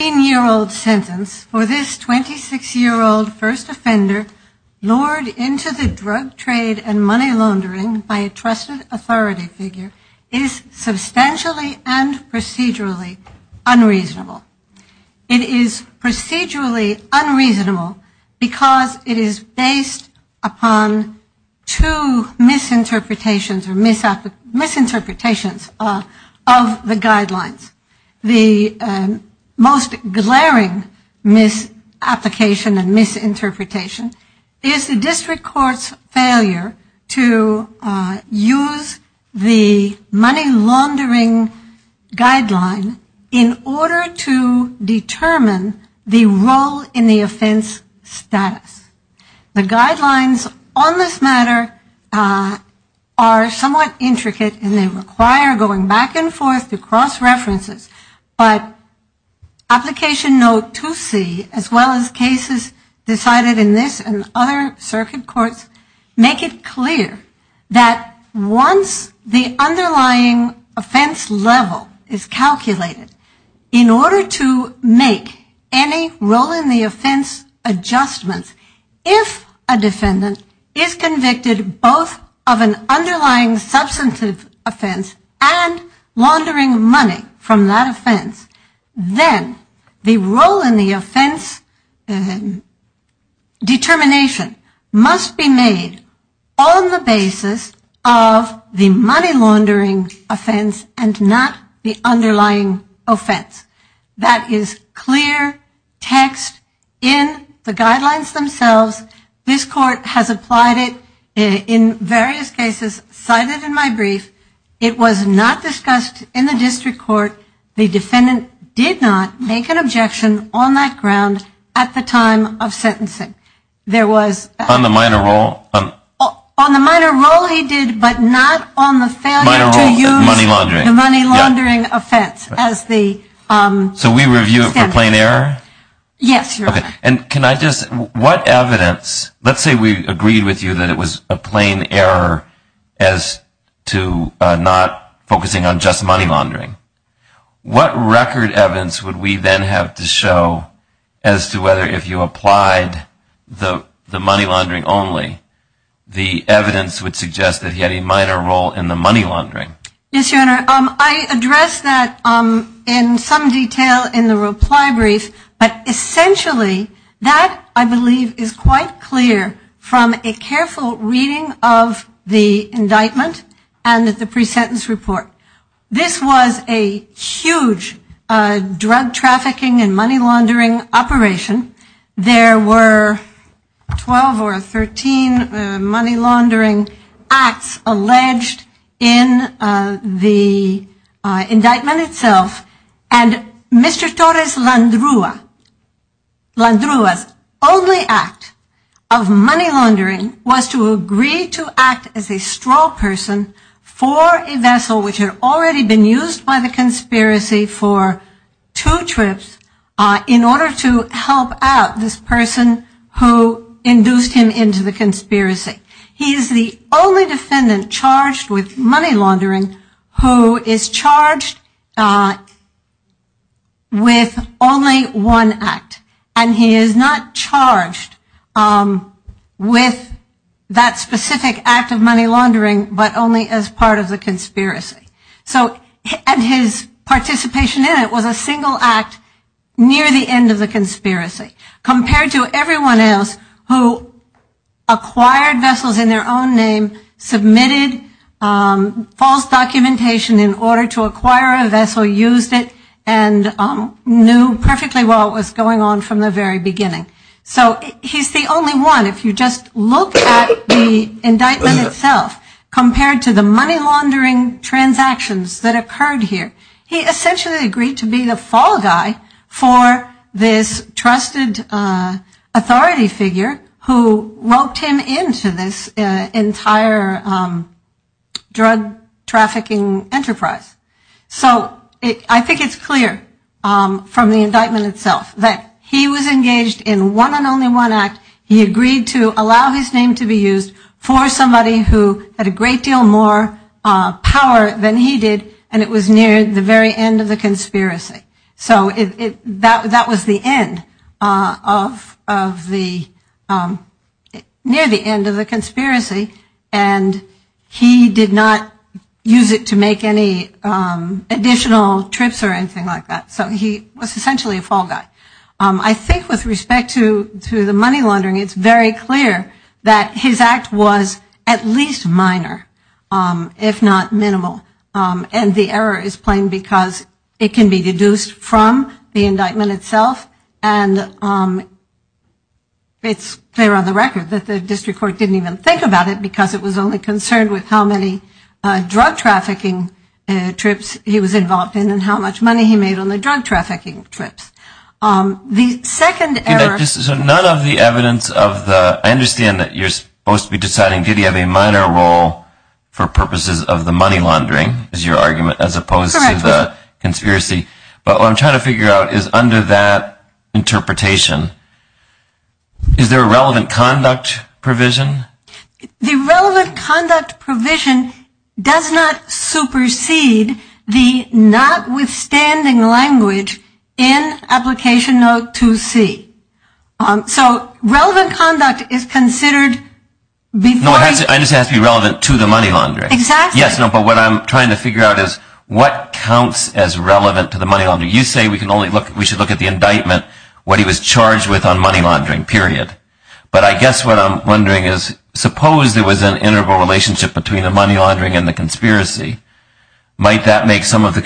16-year-old sentence for this 26-year-old first offender lured into the drug trade and money laundering by a trusted authority figure is substantially and procedurally unreasonable. It is procedurally unreasonable because it is based upon two misinterpretations of the guidelines. The most glaring misapplication and misinterpretation is the district court's failure to use the money laundering guideline in order to determine the role in the offense status. The guidelines on this matter are somewhat intricate and they require going back and forth to cross references, but application note 2C as well as cases decided in this and other circuit courts make it clear that once the underlying offense level is calculated, in order to make any role in the offense adjustments, if a defendant is convicted both of an underlying substantive offense and laundering money from that offense, then the role in the offense determination must be made on the basis of the money laundering offense and not the underlying offense. That is clear text in the guidelines themselves. This court has applied it in various cases cited in my brief. It was not discussed in the district court. The defendant did not make an objection on that ground at the time of sentencing. There was on the minor role he did but not on the failure to use the money laundering offense as the standard. So we review it for plain error? Yes, Your Honor. And can I just, what evidence, let's say we agreed with you that it was a plain error as to not focusing on just money laundering. What record evidence would we then have to show as to whether if you applied the money laundering only, the evidence would suggest that he had a minor role in the money laundering? Yes, Your Honor. I addressed that in some detail in the reply brief. But essentially that I believe is quite clear from a careful reading of the indictment and the pre-sentence report. This was a huge drug trafficking and money laundering acts alleged in the indictment itself. And Mr. Torres Landrua's only act of money laundering was to agree to act as a straw person for a vessel which had already been used by the conspiracy for two trips in order to help out this person who induced him into the conspiracy. He is the only defendant charged with money laundering who is charged with only one act. And he is not charged with that specific act of money laundering but only as part of the conspiracy compared to everyone else who acquired vessels in their own name, submitted false documentation in order to acquire a vessel, used it and knew perfectly well what was going on from the very beginning. So he is the only one. If you just look at the indictment itself compared to the money laundering transactions that occurred here, he essentially agreed to be the fall guy for this trusted authority figure who roped him into this entire drug trafficking enterprise. So I think it's clear from the indictment itself that he was engaged in one and only one act. He agreed to allow his name to be used for somebody who had a great deal more power than he did and it was near the very end of the conspiracy. So that was the end of the near the end of the conspiracy and he did not use it to make any additional trips or anything like that. So he was essentially a fall guy. I think with respect to And the error is plain because it can be deduced from the indictment itself and it's clear on the record that the district court didn't even think about it because it was only concerned with how many drug trafficking trips he was involved in and how much money he made on the purposes of the money laundering as your argument as opposed to the conspiracy. But what I'm trying to figure out is under that interpretation, is there a relevant conduct provision? The relevant conduct provision does not supersede the notwithstanding language in application note 2C. So relevant conduct is considered before... No, I understand it has to be relevant to the money laundering. Exactly. Yes, but what I'm trying to figure out is what counts as relevant to the money laundering. You say we should look at the indictment, what he was charged with on money laundering, period. But I guess what I'm wondering is suppose there was an interval relationship between the money laundering and the conspiracy. Might that make some of the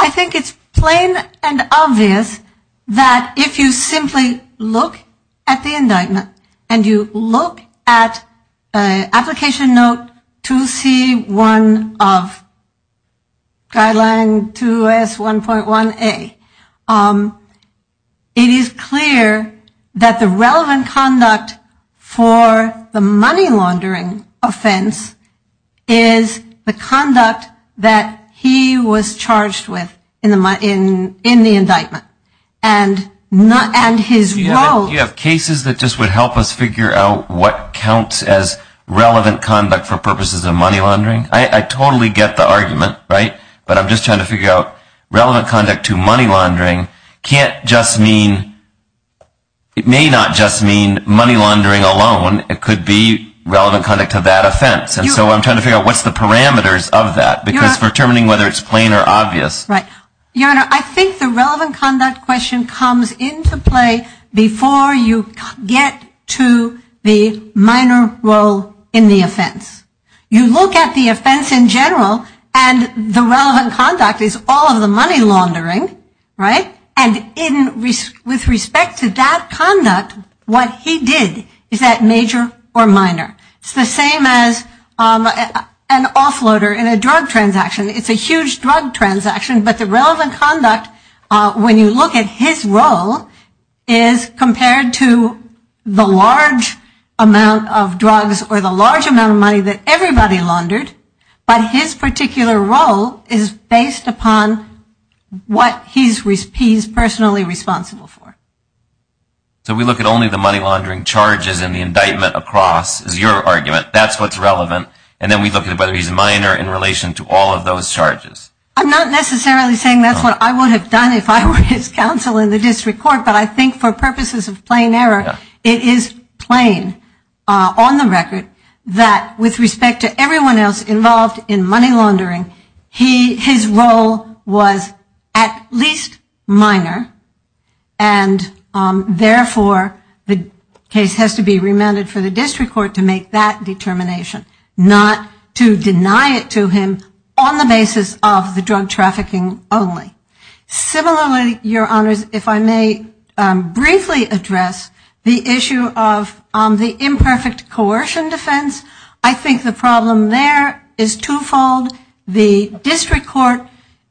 I think it's plain and obvious that if you simply look at the indictment and you look at application note 2C.1 of guideline 2S.1.1A, it is clear that the relevant conduct for the money laundering offense is the conduct that he was charged with in the indictment. And his role... Do you have cases that just would help us figure out what counts as relevant conduct for purposes of money laundering? I totally get the argument, right? But I'm just trying to figure out relevant conduct to money laundering can't just mean... It may not just mean money laundering alone. It could be relevant conduct to that offense. And so I'm trying to figure out what's the parameters of that. Because determining whether it's plain or obvious... Right. Your Honor, I think the relevant conduct question comes into play before you get to the minor role in the offense. You look at the offense in general and the relevant conduct is all of the money laundering, right? And with respect to that conduct, what he did is that major or minor. It's the same as an offloader in a drug transaction. It's a huge drug transaction, but the relevant conduct when you look at his role is compared to the large amount of drugs or the large amount of money that everybody laundered, but his particular role is based upon what he's personally responsible for. So we look at only the money laundering charges in the indictment across is your argument. That's what's relevant. And then we look at whether he's minor in relation to all of those charges. I'm not necessarily saying that's what I would have done if I were his counsel in the district court, but I think for purposes of money laundering, that's what he's responsible for. But for purposes of plain error, it is plain on the record that with respect to everyone else involved in money laundering, his role was at least minor. And therefore, the case has to be remanded for the district court to make that determination. Not to deny it to him on the basis of the drug trafficking only. Similarly, your honors, if I may briefly address the issue of the imperfect coercion defense. I think the problem there is twofold. The district court,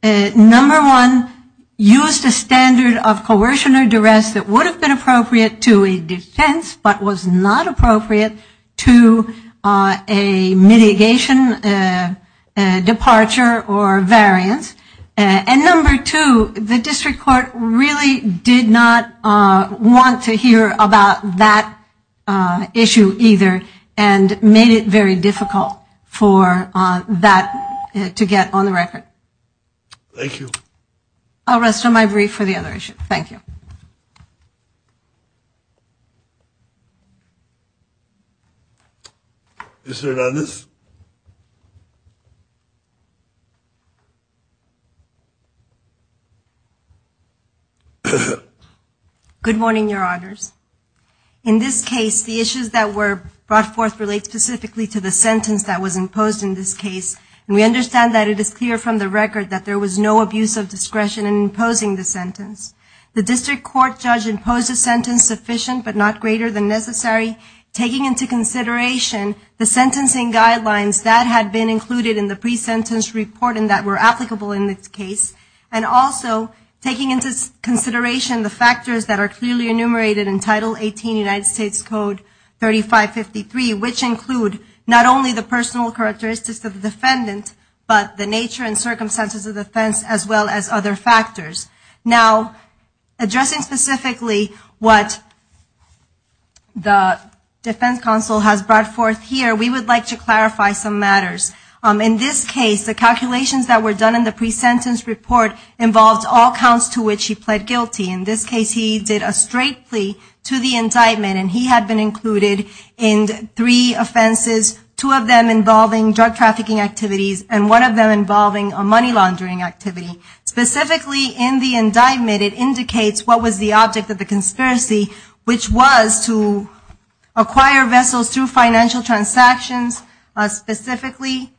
number one, used a standard of coercion or duress that would have been appropriate to a defense but was not appropriate to a mitigation departure or variance. And number two, the district court really did not want to hear about that issue either and made it very difficult for that to get on the record. Thank you. I'll rest on my brief for the other issue. Thank you. Mr. Hernandez. Good morning, your honors. In this case, the issues that were brought forth relate specifically to the sentence that was imposed in this case. And we understand that it is clear from the record that there was no abuse of discretion in imposing the sentence. The district court judge imposed a sentence sufficient but not greater than necessary, taking into consideration the sentencing guidelines that had been included in the pre-sentence report and that were applicable in this case, and also taking into consideration the factors that are clearly enumerated in Title 18 United States Code 3553, which include not only the personal characteristics of the defendant, but the nature and circumstances of the offense, as well as other factors. Now, addressing specifically what the defense counsel has brought forth here, we would like to clarify some matters. In this case, the calculations that were done in the pre-sentence report involved all counts to which he pled guilty. In this case, he did a straight plea to the indictment, and he had been included in three offenses, two of them involving drug trafficking activities, and one of them involving a money laundering activity. Specifically in the indictment, it indicates what was the object of the conspiracy, which was to acquire vessels through financial transactions, specifically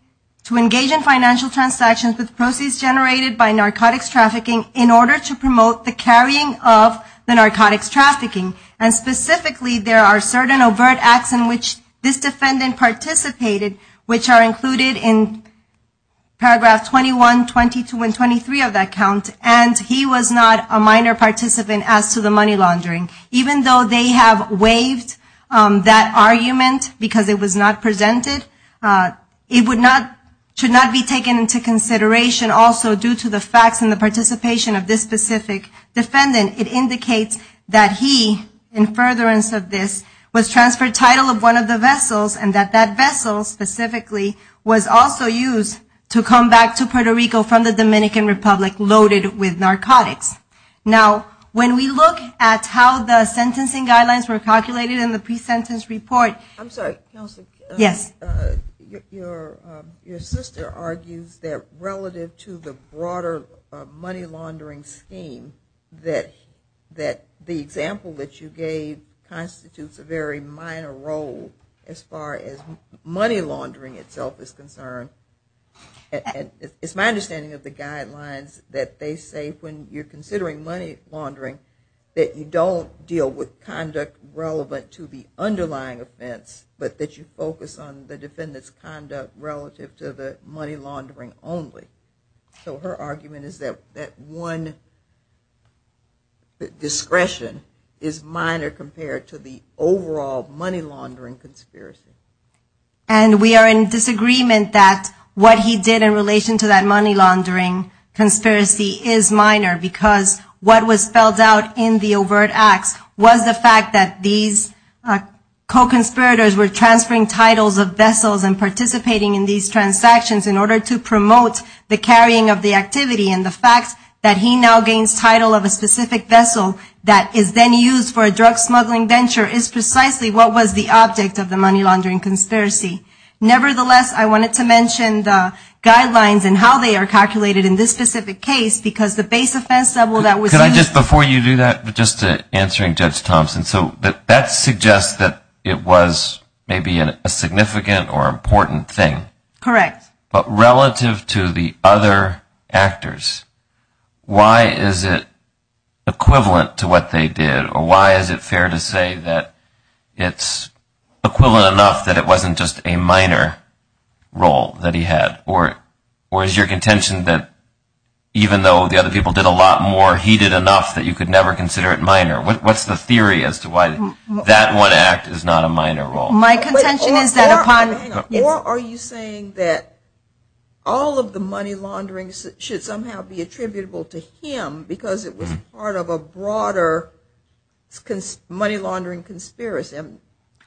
to engage in financial transactions with proceeds generated by narcotics trafficking in order to promote the carrying of the narcotics trafficking. And specifically, there are certain overt acts in which this defendant participated, which are included in paragraph 21, 22, and 23 of that count, and he was not a minor participant as to the money laundering. Even though they have waived that argument because it was not presented, it should not be taken into consideration also due to the facts and the participation of this specific defendant. It indicates that he, in furtherance of this, was transferred title of one of the vessels, and that that vessel specifically was also used to come back to Puerto Rico from the Dominican Republic loaded with narcotics. Now, when we look at how the sentencing guidelines were calculated in the pre-sentence report... That the example that you gave constitutes a very minor role as far as money laundering itself is concerned. It's my understanding of the guidelines that they say when you're considering money laundering that you don't deal with conduct relevant to the underlying offense, but that you focus on the defendant's conduct relative to the money laundering only. So her argument is that one discretion is minor compared to the overall money laundering conspiracy. And we are in disagreement that what he did in relation to that money laundering conspiracy is minor, because what was spelled out in the overt acts was the fact that these co-conspirators were transferring titles of vessels and participating in these transactions in order to promote the money laundering. And the fact that he now gains title of a specific vessel that is then used for a drug smuggling venture is precisely what was the object of the money laundering conspiracy. Nevertheless, I wanted to mention the guidelines and how they are calculated in this specific case, because the base offense level that was used... Can I just, before you do that, just answering Judge Thompson. So that suggests that it was maybe a significant or important thing. Correct. But relative to the other actors, why is it equivalent to what they did, or why is it fair to say that it's equivalent enough that it wasn't just a minor role that he had? Or is your contention that even though the other people did a lot more, he did enough that you could never consider it minor? What's the theory as to why that one act is not a minor role? My contention is that upon... Or are you saying that all of the money laundering should somehow be attributable to him because it was part of a broader money laundering conspiracy?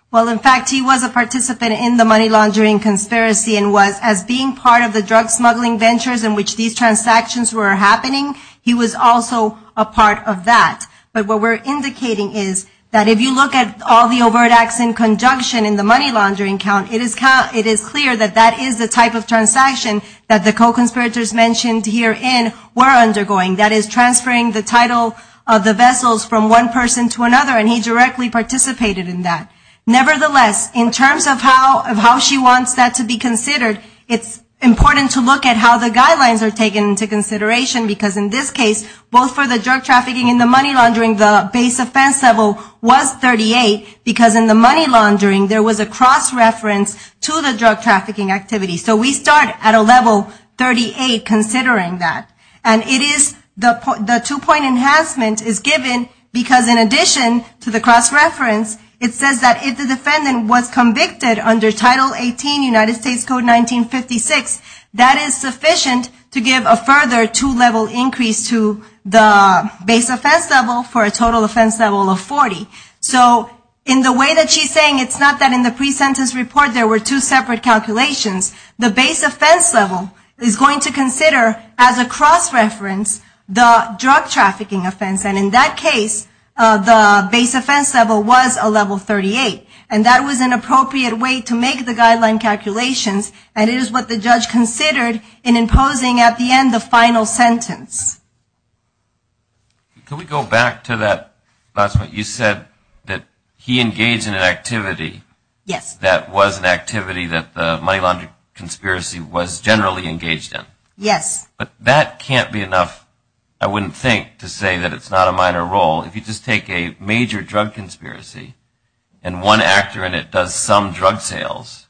Well, in fact, he was a participant in the money laundering conspiracy and was, as being part of the drug smuggling ventures in which these transactions were happening, he was also a part of that. But what we're indicating is that if you look at all the overt acts in conjunction in the money laundering count, it is clear that that is the type of transaction that the co-conspirators mentioned herein were undergoing. That is transferring the title of the vessels from one person to another, and he directly participated in that. Nevertheless, in terms of how she wants that to be considered, it's important to look at how the guidelines are taken into consideration, because in this case, both for the drug trafficking and the money laundering count, it is clear that that is the type of transaction that the co-conspirators mentioned herein were undergoing. And in the case of the money laundering, the base offense level was 38, because in the money laundering, there was a cross-reference to the drug trafficking activity. So we start at a level 38 considering that. And the two-point enhancement is given because in addition to the cross-reference, it says that if the defendant was convicted under Title 18 United States Code 1956, that is sufficient to give a further two-level increase to the base offense level for the drug trafficking activity. So in the way that she's saying, it's not that in the pre-sentence report there were two separate calculations. The base offense level is going to consider as a cross-reference the drug trafficking offense. And in that case, the base offense level was a level 38. And that was an appropriate way to make the guideline calculations, and it is what the judge considered in imposing at the end the final sentence. Can we go back to that last point? You said that he engaged in an activity that was an activity that the money laundering conspiracy was generally engaged in. But that can't be enough, I wouldn't think, to say that it's not a minor role. If you just take a major drug conspiracy and one actor in it does some drug sales,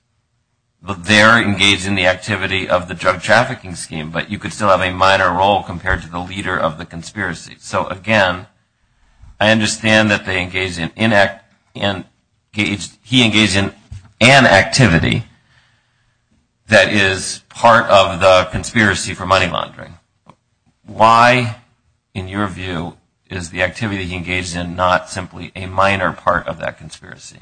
they're engaged in the activity of the drug trafficking scheme. But you could still have a minor role compared to the leader of the conspiracy. So again, I understand that he engaged in an activity that is part of the conspiracy for money laundering. Why, in your view, is the activity he engaged in not simply a minor part of that conspiracy?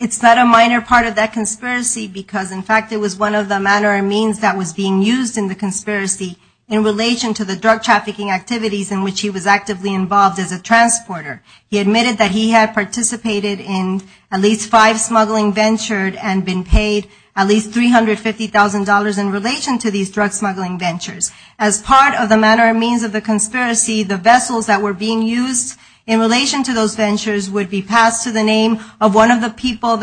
It's not a minor part of that conspiracy because, in fact, it was one of the manner and means that was being used in the conspiracy in relation to the drug trafficking activities in which he was actively involved as a transporter. He admitted that he had participated in at least five smuggling ventures and been paid at least $350,000 in relation to these drug smuggling ventures. As part of the manner and means of the conspiracy, the vessels that were being used in relation to those ventures would be passed to the name of the drug smuggler.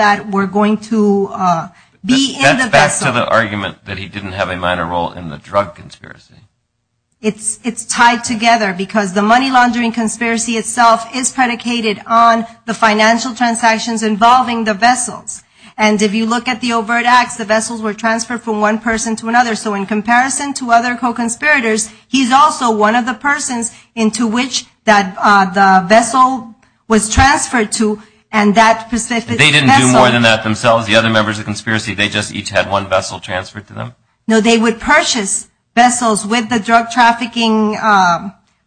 That's back to the argument that he didn't have a minor role in the drug conspiracy. It's tied together because the money laundering conspiracy itself is predicated on the financial transactions involving the vessels. And if you look at the overt acts, the vessels were transferred from one person to another. So in comparison to other co-conspirators, he's also one of the persons into which the vessel was transferred to, and that was a minor role. They didn't do more than that themselves. The other members of the conspiracy, they just each had one vessel transferred to them. No, they would purchase vessels with the drug trafficking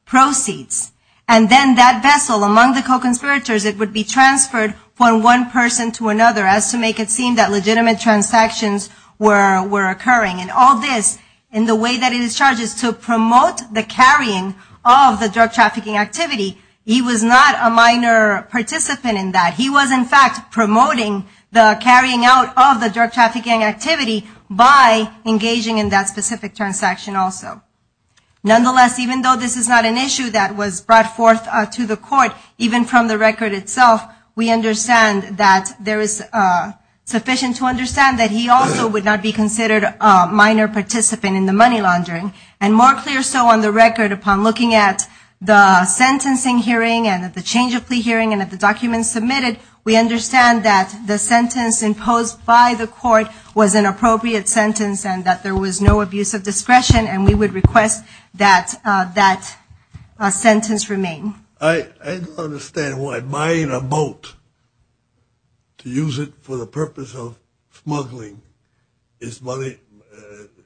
proceeds. And then that vessel, among the co-conspirators, it would be transferred from one person to another as to make it seem that legitimate transactions were occurring. And all this, in the way that it is charged, is to promote the carrying of the drug trafficking activity. He was not a minor participant in that. He was, in fact, promoting the carrying out of the drug trafficking activity by engaging in that specific transaction also. Nonetheless, even though this is not an issue that was brought forth to the court, even from the record itself, we understand that there is sufficient to understand that he also would not be considered a minor participant in the money laundering. And more clear so on the record, upon looking at the sentencing hearing and at the change of plea hearing and at the documents submitted, we understand that the sentence imposed by the court was an appropriate sentence and that there was no abuse of discretion, and we would request that that sentence remain. I don't understand why buying a boat to use it for the purpose of smuggling its money,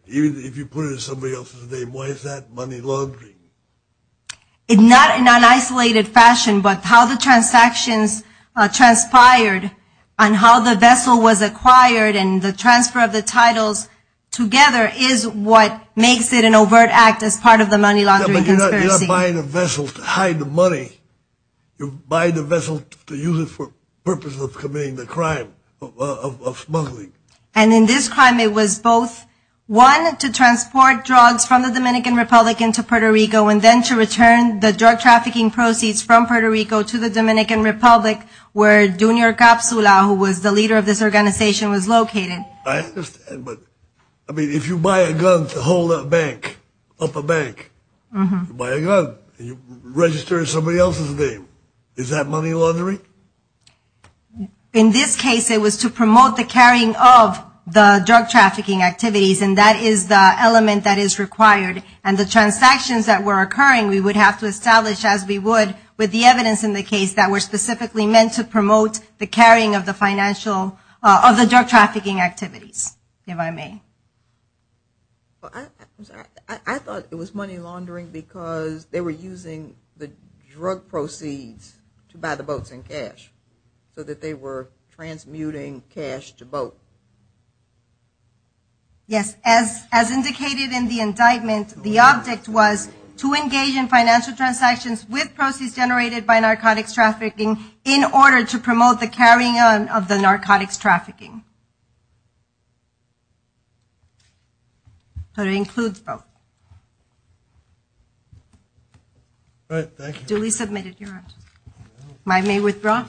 even if you put it in somebody else's name, why is that money laundering? Not in an isolated fashion, but how the transactions transpired and how the vessel was acquired and the transfer of the titles together is what makes it an overt act as part of the money laundering conspiracy. Yeah, but you're not buying a vessel to hide the money. You're buying the vessel to use it for the purpose of committing the crime of smuggling. And in this crime it was both, one, to transport drugs from the Dominican Republic into Puerto Rico and then to return the drug trafficking proceeds from Puerto Rico to the Dominican Republic, where Junior Capsula, who was the leader of this organization, was located. I understand, but I mean, if you buy a gun to hold a bank, up a bank, you buy a gun and you register it in somebody else's name, is that money laundering? In this case it was to promote the carrying of the drug trafficking activities, and that is the element that is required. And the transactions that were occurring we would have to establish, as we would with the evidence in the case, that were specifically meant to promote the carrying of the drug trafficking activities, if I may. I thought it was money laundering because they were using the drug proceeds to buy the boats in cash, so that they were transmuting cash to boat. Yes, as indicated in the indictment, the object was to engage in financial transactions with proceeds generated by narcotics trafficking in order to promote the carrying on of the narcotics trafficking. So it includes both. All right, thank you. Duly submitted, Your Honor.